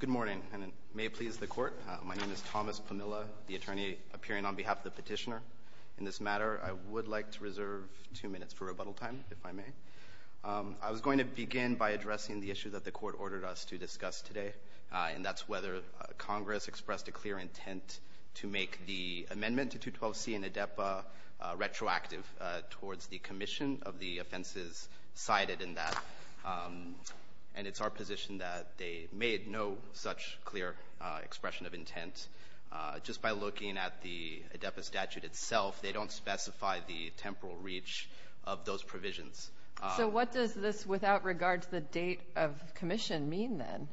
Good morning, and it may please the court. My name is Thomas Pamela, the attorney appearing on behalf of the petitioner. In this matter I would like to reserve two minutes for rebuttal time, if I may. I was going to begin by addressing the issue that the court ordered us to discuss today, and that's whether Congress expressed a clear intent to make the amendment to 212c in ADEPA retroactive towards the commission of the offenses cited in that. And it's our position that they made no such clear expression of intent. Just by looking at the ADEPA statute itself, they don't specify the temporal reach of those provisions. So what does this, without regard to the date of commission, mean then?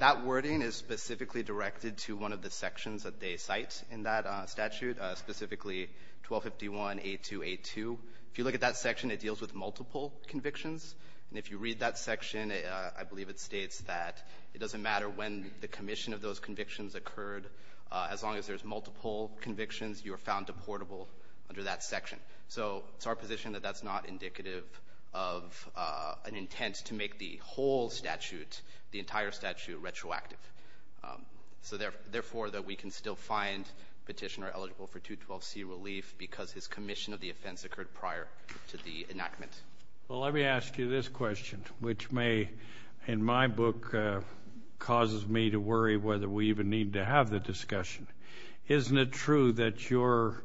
That wording is specifically directed to one of the sections that they cite in that statute, specifically 1251a2a2. If you look at that section, it deals with multiple convictions. And if you read that section, I believe it states that it doesn't matter when the commission of those convictions occurred. As long as there's multiple convictions, you are found deportable under that section. So it's our position that that's not indicative of an intent to make the whole statute, the entire statute, retroactive. So therefore that we can still find petitioner eligible for 212c relief because his commission of the offense occurred prior to the enactment. Well, let me ask you this question, which may, in my book, causes me to worry whether we even need to have the discussion. Isn't it true that your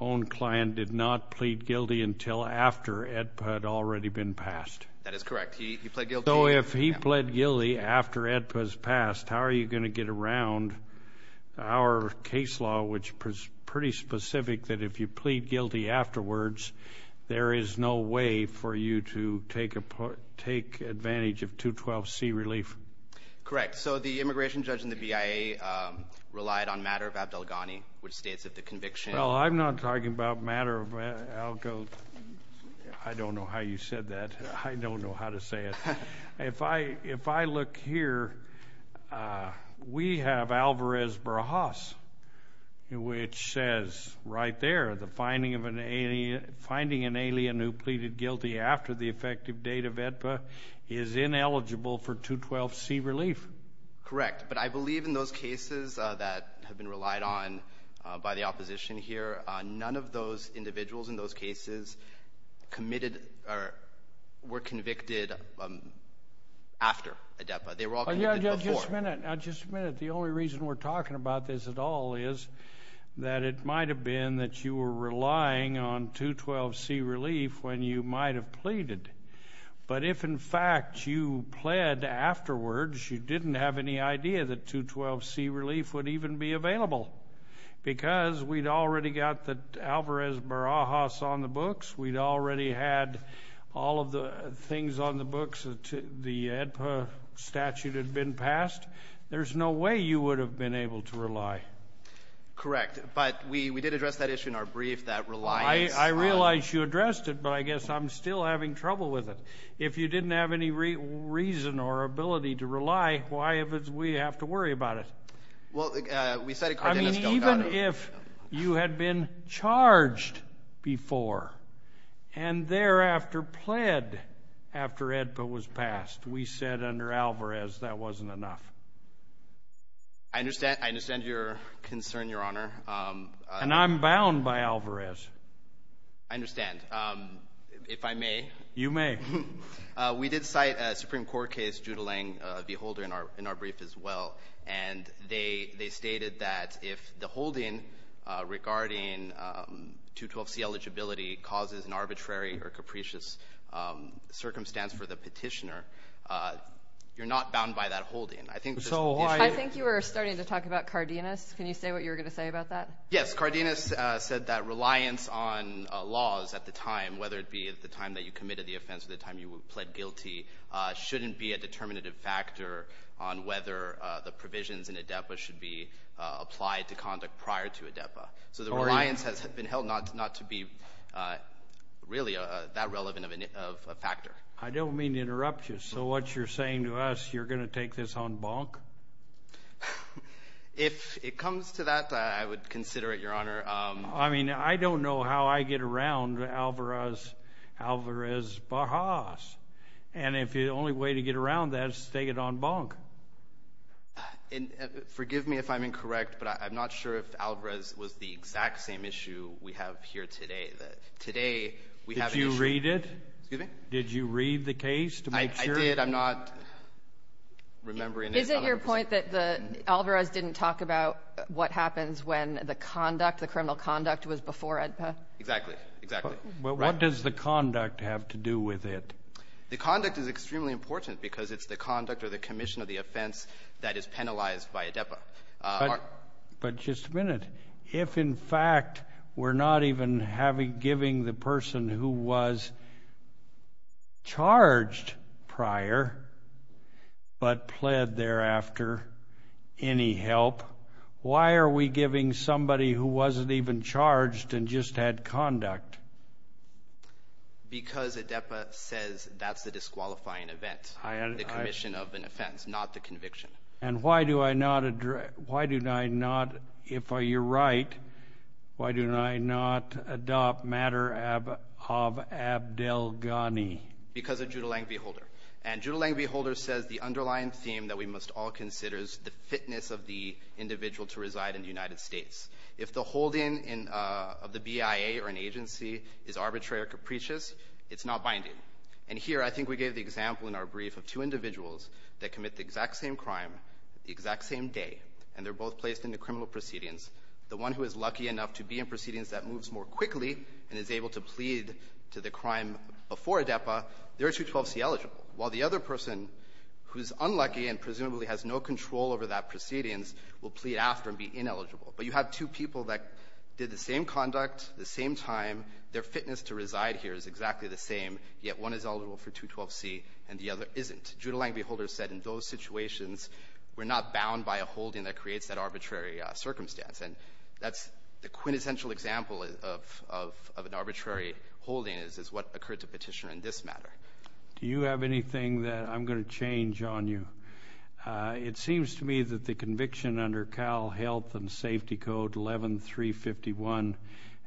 own client did not plead guilty until after ADEPA had already been passed? That is correct. He pled guilty. So if he pled guilty after ADEPA's passed, how are you going to get around our case law, which is pretty specific, that if you plead guilty afterwards, there is no way for you to take advantage of 212c relief? Correct. So the immigration judge in the BIA relied on matter of Abdel Ghani, which states that the conviction... Well, I'm not talking about matter of Abdel... I don't know how you said that. I don't know how to say it. If I look here, we have Alvarez-Brahas, which says right there, the finding of an alien... Finding an alien who pleaded guilty after the effective date of ADEPA is ineligible for 212c relief. Correct, but I believe in those cases that have been relied on by the opposition here, none of those individuals in those cases committed or were convicted after ADEPA. They were all committed before. Just a minute. Just a minute. The only reason we're talking about this at all is that it might have been that you were relying on 212c relief when you might have pleaded. But if in fact you pled afterwards, you didn't have any idea that 212c relief would even be available because we'd already got the Alvarez-Brahas on the books, we'd already had all of the things on the books that the ADEPA statute had been passed, there's no way you would have been able to rely. Correct, but we did address that issue in our brief that relies... I realize you addressed it, but I guess I'm still having trouble with it. If you didn't have any reason or ability to rely, why have we have to worry about it? Well, we said... I mean even if you had been charged before and thereafter pled after ADEPA was passed, we said under Alvarez that wasn't enough. I understand your concern, Your Honor. And I'm bound by Alvarez. I understand. If I may... You may. We did cite a Supreme Court case, Judelang v. Holder, in our brief as well, and they stated that if the holding regarding 212c eligibility causes an arbitrary or capricious circumstance for the petitioner, you're not bound by that holding. I think... So I think you were starting to talk about Cardenas. Can you say what you were going to say about that? Yes, Cardenas said that reliance on the offense at the time you pled guilty shouldn't be a determinative factor on whether the provisions in ADEPA should be applied to conduct prior to ADEPA. So the reliance has been held not to be really that relevant of a factor. I don't mean to interrupt you. So what you're saying to us, you're going to take this on bonk? If it comes to that, I would consider it, Your Honor. I mean, I don't know how I get around Alvarez Bajas, and if the only way to get around that is to take it on bonk. Forgive me if I'm incorrect, but I'm not sure if Alvarez was the exact same issue we have here today. Today, we have... Did you read it? Did you read the case to make sure? I did. I'm not remembering it. Is it your point that the Alvarez didn't talk about what happens when the conduct, the criminal conduct, was before ADEPA? Exactly, exactly. But what does the conduct have to do with it? The conduct is extremely important because it's the conduct or the commission of the offense that is penalized by ADEPA. But just a minute. If, in fact, we're not even giving the person who was charged prior, but pled thereafter any help, why are we giving somebody who wasn't even charged and just had conduct? Because ADEPA says that's the disqualifying event, the commission of an offense, not the conviction. And why do I not Why do I not, if you're right, why do I not adopt matter of Abdel Ghani? Because of Judelang v. Holder. And Judelang v. Holder says the underlying theme that we must all consider is the fitness of the arbitrary or capricious, it's not binding. And here, I think we gave the example in our brief of two individuals that commit the exact same crime the exact same day, and they're both placed in the criminal proceedings. The one who is lucky enough to be in proceedings that moves more quickly and is able to plead to the crime before ADEPA, they're 212c eligible, while the other person who's unlucky and presumably has no control over that proceedings will plead after and be ineligible. But you have two people that did the same conduct, the same time, their fitness to reside here is exactly the same, yet one is eligible for 212c and the other isn't. Judelang v. Holder said in those situations we're not bound by a holding that creates that arbitrary circumstance. And that's the quintessential example of an arbitrary holding is what occurred to petitioner in this matter. Do you have anything that I'm going to change on you? It seems to me that the conviction under Cal Health and Safety Code 11351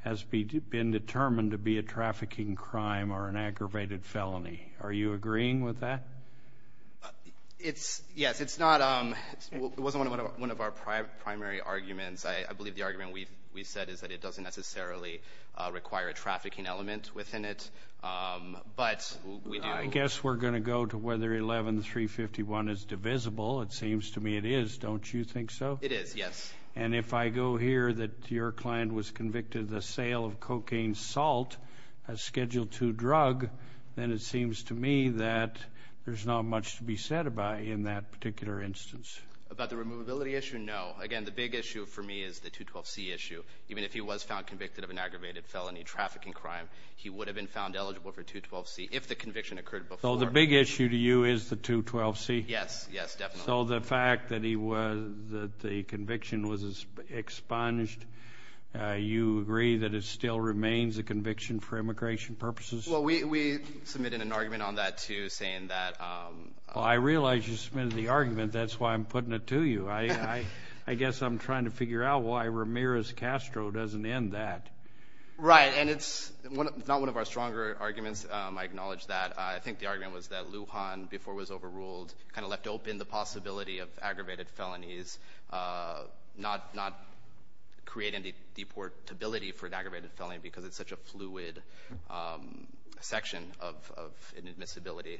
has been determined to be a trafficking crime or an aggravated felony. Are you agreeing with that? It's yes, it's not um, it wasn't one of our primary arguments. I believe the argument we've said is that it doesn't necessarily require a trafficking element within it. But I guess we're going to go to whether 11351 is divisible. It seems to me it is, don't you think so? It is, yes. And if I go here that your client was convicted of the sale of cocaine salt, a Schedule 2 drug, then it seems to me that there's not much to be said about in that particular instance. About the removability issue, no. Again, the big issue for me is the 212c issue. Even if he was found convicted of an aggravated felony trafficking crime, he would have been found eligible for 212c if the conviction occurred before. So the big issue to you is the 212c? Yes, yes, definitely. So the fact that he was, that the conviction was expunged, you agree that it still remains a conviction for immigration purposes? Well, we submitted an argument on that too, saying that, um... Well, I realize you submitted the argument. That's why I'm putting it to you. I guess I'm trying to figure out why Ramirez-Castro doesn't end that. Right, and it's not one of our stronger arguments. I acknowledge that. I think the argument was that Lujan, before was overruled, kind of left open the possibility of aggravated felonies, not creating the deportability for an aggravated felony because it's such a fluid section of inadmissibility.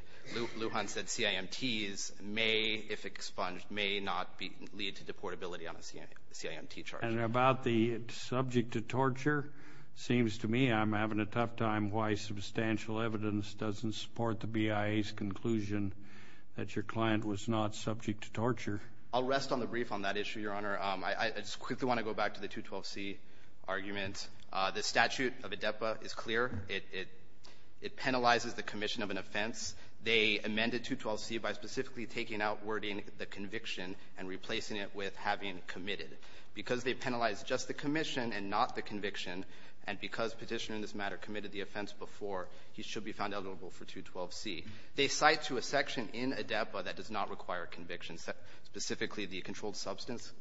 Lujan said CIMTs may, if expunged, may not be lead to deportability on a CIMT charge. And about the subject to torture, seems to me I'm having a tough time why substantial evidence doesn't support the BIA's conclusion that your client was not subject to torture. I'll rest on the brief on that issue, Your Honor. I just quickly want to go back to the 212c argument. The statute of ADEPA is clear. It penalizes the commission of an offense. They amended 212c by specifically taking out wording the conviction and replacing it with having committed. Because they penalized just the commission and not the conviction, and because Petitioner in this matter committed the offense before, he should be found eligible for 212c. They cite to a section in ADEPA that does not require a conviction, specifically the controlled substance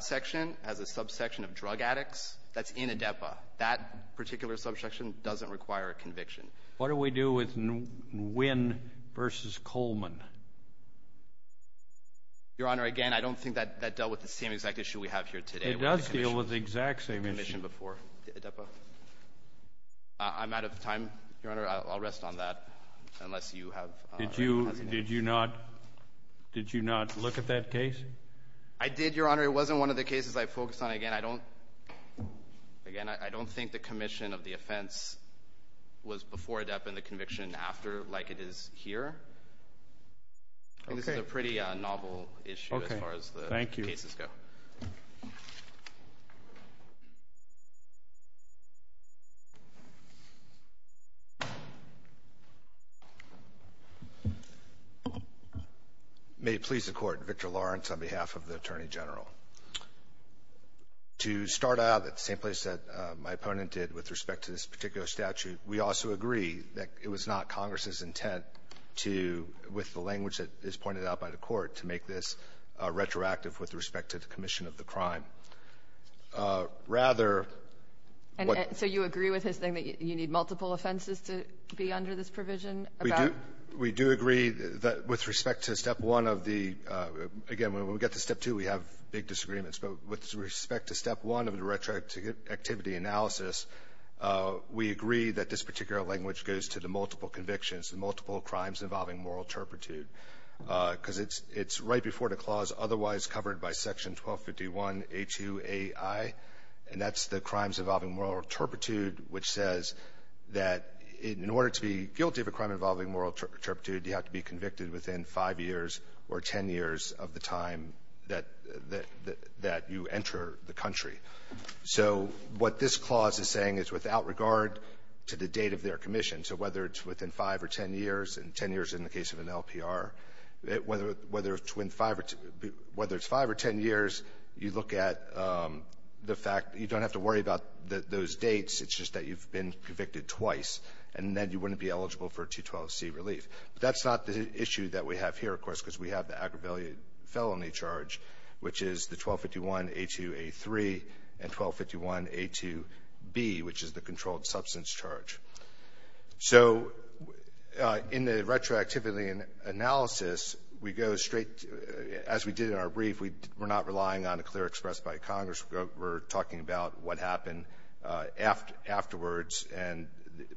section as a subsection of drug addicts. That's in ADEPA. That particular subsection doesn't require a conviction. What do we do with Nguyen v. Coleman? Your Honor, again, I don't think that dealt with the same exact issue we have here today. It does deal with the exact same issue. ...commission before ADEPA. I'm out of time, Your Honor. I'll rest on that, unless you have... Did you not look at that case? I did, Your Honor. It wasn't one of the cases I focused on. Again, I don't... ...before ADEPA and the conviction after, like it is here. This is a pretty novel issue as far as the cases go. May it please the Court. Victor Lawrence on behalf of the Attorney General. To start out at the same place that my opponent did with respect to this particular statute, we also agree that it was not Congress's intent to, with the language that is pointed out by the Court, to make this retroactive with respect to the commission of the crime. Rather... And so you agree with his thing that you need multiple offenses to be under this provision about... We do. We do agree that with respect to Step 1 of the — again, when we get to Step 2, we have big disagreements. But with respect to Step 1 of the retroactivity analysis, we agree that this particular language goes to the multiple convictions, the multiple crimes involving moral turpitude, because it's right before the clause otherwise covered by Section 1251A2AI, and that's the crimes involving moral turpitude, which says that in order to be guilty of a crime involving moral turpitude, you have to be convicted within 5 years or 10 years of the time that you enter the country. So what this clause is saying is without regard to the date of their commission, so whether it's within 5 or 10 years, and 10 years in the case of an LPR, whether it's 5 or 10 years, you look at the fact — you don't have to worry about those dates. It's just that you've been convicted twice, and then you wouldn't be eligible for a 212C relief. But that's not the issue that we have here, of course, because we have the aggravated felony charge, which is the 1251A2A3 and 1251A2B, which is the controlled substance charge. So in the retroactivity analysis, we go straight — as we did in our brief, we're not relying on a clear express by Congress. We're talking about what happened afterwards, and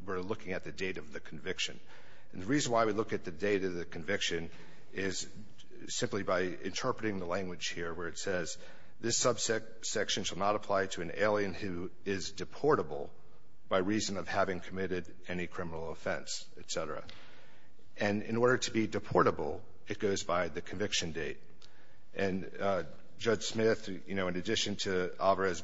we're looking at the date of the conviction. And the reason why we look at the date of the conviction is simply by interpreting the language here, where it says, this subsection shall not apply to an alien who is deportable by reason of having committed any criminal offense, et cetera. And in order to be deportable, it goes by the conviction date. And Judge Smith, you know, he was convicted twice,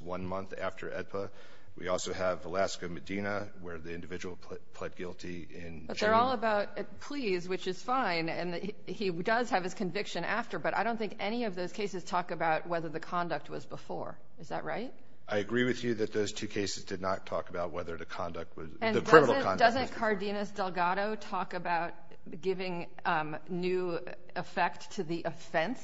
one month after AEDPA. We also have Alaska-Medina, where the individual pled guilty in January. But they're all about pleas, which is fine, and he does have his conviction after. But I don't think any of those cases talk about whether the conduct was before. Is that right? I agree with you that those two cases did not talk about whether the conduct was — the criminal conduct was before. And doesn't Cardenas-Delgado talk about giving new effect to the offense?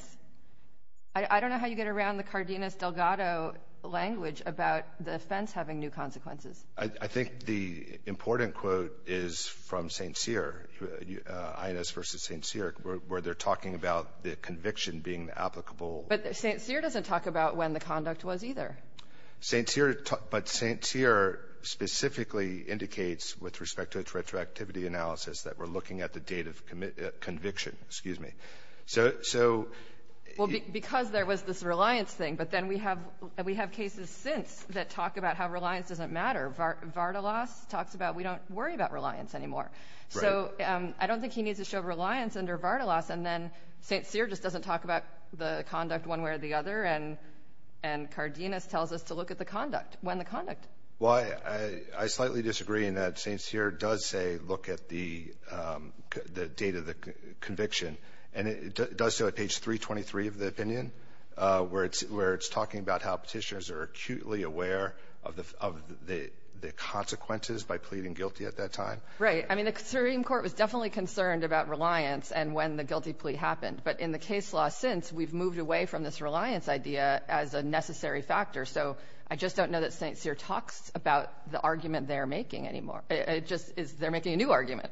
I don't know how you get around the Cardenas-Delgado language about the offense having new consequences. I think the important quote is from St. Cyr, Inez v. St. Cyr, where they're talking about the conviction being the applicable — But St. Cyr doesn't talk about when the conduct was either. St. Cyr — but St. Cyr specifically indicates, with respect to its retroactivity analysis, that we're looking at the date of conviction. Excuse me. So — Well, because there was this reliance thing. But then we have — we have cases since that talk about how reliance doesn't matter. Vardalos talks about we don't worry about reliance anymore. Right. So I don't think he needs to show reliance under Vardalos. And then St. Cyr just doesn't talk about the conduct one way or the other. And Cardenas tells us to look at the conduct, when the conduct. Well, I slightly disagree in that St. Cyr does say look at the date of the conviction. And it does so at page 323 of the opinion, where it's talking about how petitioners are acutely aware of the consequences by pleading guilty at that time. Right. I mean, the Supreme Court was definitely concerned about reliance and when the guilty plea happened. But in the case law since, we've moved away from this reliance idea as a necessary factor. So I just don't know that St. Cyr talks about the argument they're making anymore. It just is — they're making a new argument.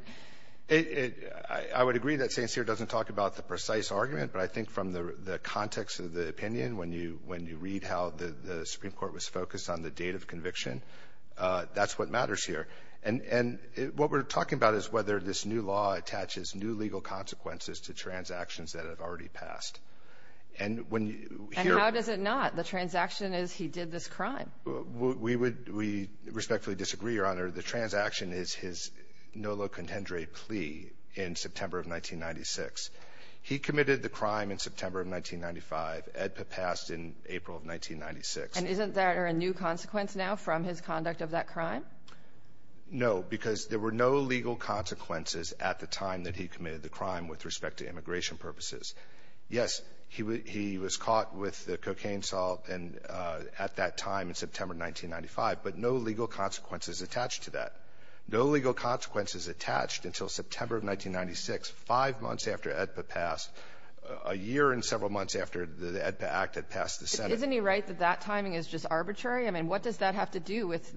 It — I would agree that St. Cyr doesn't talk about the precise argument. But I think from the context of the opinion, when you read how the Supreme Court was focused on the date of conviction, that's what matters here. And what we're talking about is whether this new law attaches new legal consequences to transactions that have already passed. And when you hear — And how does it not? The transaction is he did this crime. We would — we respectfully disagree, Your Honor. The transaction is his Nolo contendere plea in September of 1996. He committed the crime in September of 1995. AEDPA passed in April of 1996. And isn't there a new consequence now from his conduct of that crime? No, because there were no legal consequences at the time that he committed the crime with respect to immigration purposes. Yes, he was caught with the cocaine salt and at that time in September of 1995, but no legal consequences attached to that. No legal consequences attached until September of 1996, five months after AEDPA passed, a year and several months after the AEDPA Act had passed the Senate. Isn't he right that that timing is just arbitrary? I mean, what does that have to do with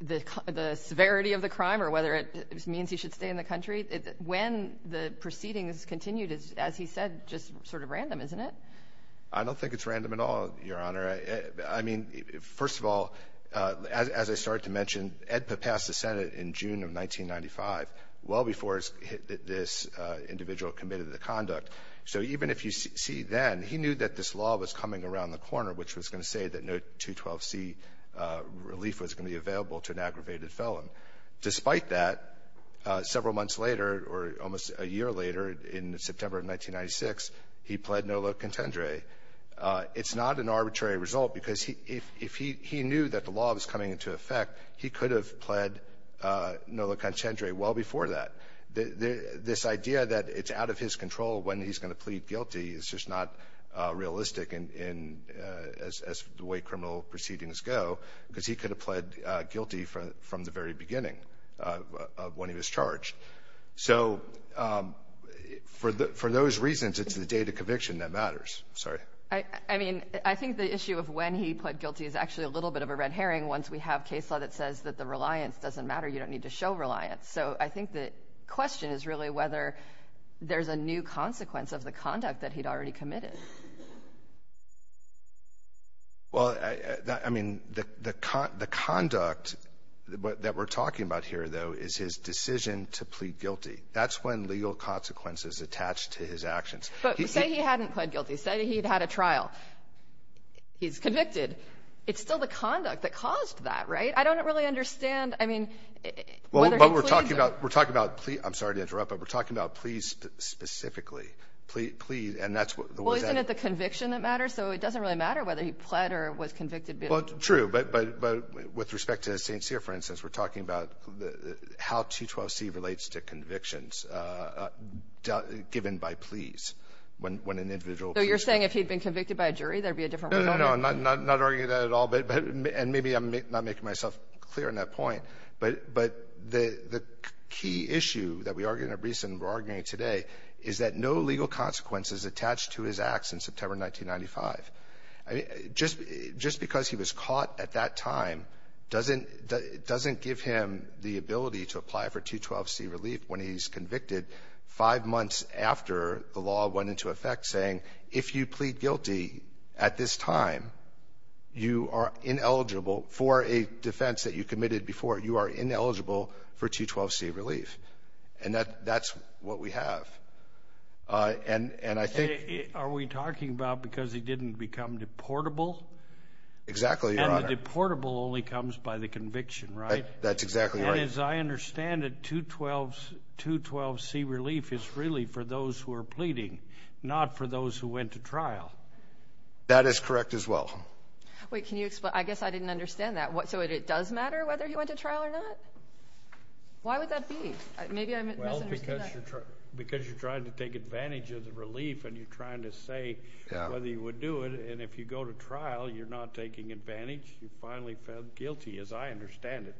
the severity of the crime or whether it means he should stay in the country? When the proceedings continued is, as he said, just sort of random, isn't it? I don't think it's random at all, Your Honor. I mean, first of all, as I started to mention, AEDPA passed the Senate in June of 1995, well before this individual committed the conduct. So even if you see then, he knew that this law was coming around the corner, which was going to say that no 212C relief was going to be available to an aggravated felon. Despite that, several months later or almost a year later in September of 1996, he pled nolo contendere. It's not an arbitrary result because if he knew that the law was coming into effect, he could have pled nolo contendere well before that. This idea that it's out of his control when he's going to plead guilty is just not realistic as the way criminal proceedings go, because he could have pled guilty from the very beginning of when he was charged. So for those reasons, it's the date of conviction that matters. Sorry. I mean, I think the issue of when he pled guilty is actually a little bit of a red herring once we have case law that says that the reliance doesn't matter. You don't need to show reliance. So I think the question is really whether there's a new consequence of the conduct that he'd already committed. Well, I mean, the conduct that we're talking about here, though, is his decision to plead guilty. That's when legal consequences attach to his actions. But say he hadn't pled guilty. Say he'd had a trial. He's convicted. It's still the conduct that caused that, right? I don't really understand, I mean, whether he pleaded. But we're talking about we're talking about pleading. I'm sorry to interrupt, but he pled guilty. Plead. And that's what the question is. Well, isn't it the conviction that matters? So it doesn't really matter whether he pled or was convicted. Well, true. But with respect to St. Cyr, for instance, we're talking about how 212C relates to convictions given by pleas when an individual pleads. So you're saying if he'd been convicted by a jury, there'd be a different way to argue? No, no, no. I'm not arguing that at all. And maybe I'm not making myself clear on that point. But the key issue that we argue in a recent bargaining today is that no legal consequences attach to his acts in September 1995. I mean, just because he was caught at that time doesn't give him the ability to apply for 212C relief when he's convicted five months after the law went into effect, saying if you plead guilty at this time, you are ineligible for a defense that you have. And I think — Are we talking about because he didn't become deportable? Exactly, Your Honor. And the deportable only comes by the conviction, right? That's exactly right. And as I understand it, 212C relief is really for those who are pleading, not for those who went to trial. That is correct as well. Wait. Can you explain? I guess I didn't understand that. So it does matter whether he went to trial or not? Why would that be? Maybe I misunderstood that. Well, because you're trying to take advantage of the relief and you're trying to say whether you would do it. And if you go to trial, you're not taking advantage. You finally felt guilty, as I understand it.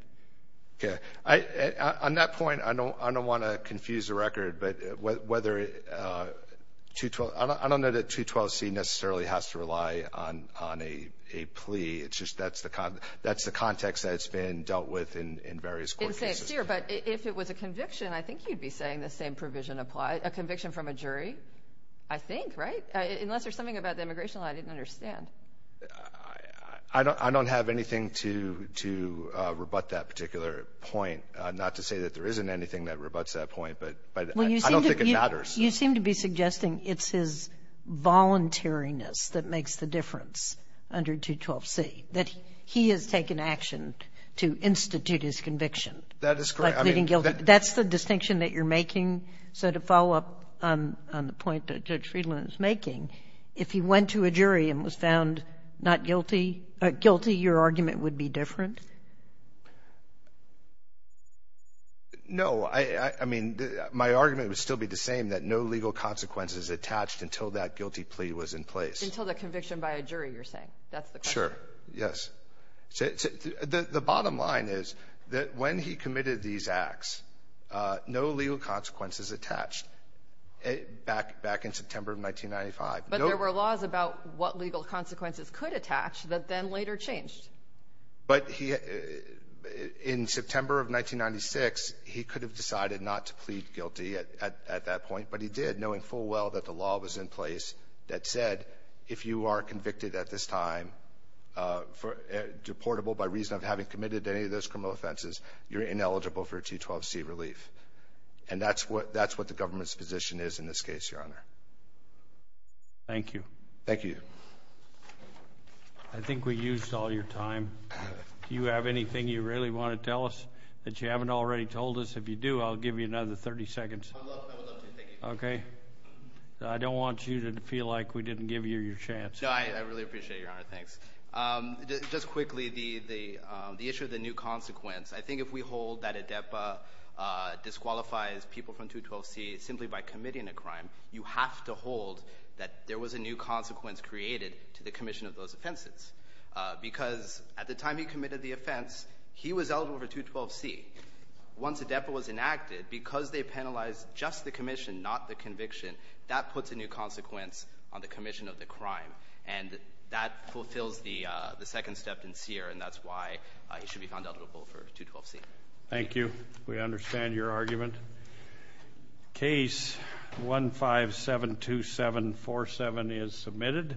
Okay. On that point, I don't want to confuse the record. But whether — I don't know that 212C necessarily has to rely on a plea. It's just that's the context that it's been dealt with in various court cases. But if it was a conviction, I think you'd be saying the same provision applies. A conviction from a jury, I think, right? Unless there's something about the immigration law I didn't understand. I don't have anything to rebut that particular point. Not to say that there isn't anything that rebuts that point, but I don't think it matters. You seem to be suggesting it's his That is correct. By pleading guilty. That's the distinction that you're making. So to follow up on the point that Judge Friedland is making, if he went to a jury and was found not guilty — guilty, your argument would be different? No. I mean, my argument would still be the same, that no legal consequences attached until that guilty plea was in place. Until the conviction by a jury, you're saying. That's the question. Yes. The bottom line is that when he committed these acts, no legal consequences attached back in September of 1995. But there were laws about what legal consequences could attach that then later changed. But in September of 1996, he could have decided not to plead guilty at that point. But he did, knowing full well that the law was in place that said, if you are convicted at this time, deportable by reason of having committed any of those criminal offenses, you're ineligible for a T-12C relief. And that's what the government's position is in this case, Your Honor. Thank you. Thank you. I think we used all your time. Do you have anything you really want to tell us that you haven't already told us? If you do, I'll give you another 30 seconds. I would love to. Thank you. Okay. I don't want you to feel like we didn't give you your chance. I really appreciate it, Your Honor. Thanks. Just quickly, the issue of the new consequence. I think if we hold that ADEPA disqualifies people from T-12C simply by committing a crime, you have to hold that there was a new consequence created to the commission of those offenses. Because at the time he committed the offense, he was eligible for T-12C. Once ADEPA was enacted, because they penalized just the commission, not the conviction, that puts a new consequence on the commission of the crime. And that fulfills the second step in SEER, and that's why he should be found eligible for T-12C. Thank you. We understand your argument. Case 1572747 is submitted.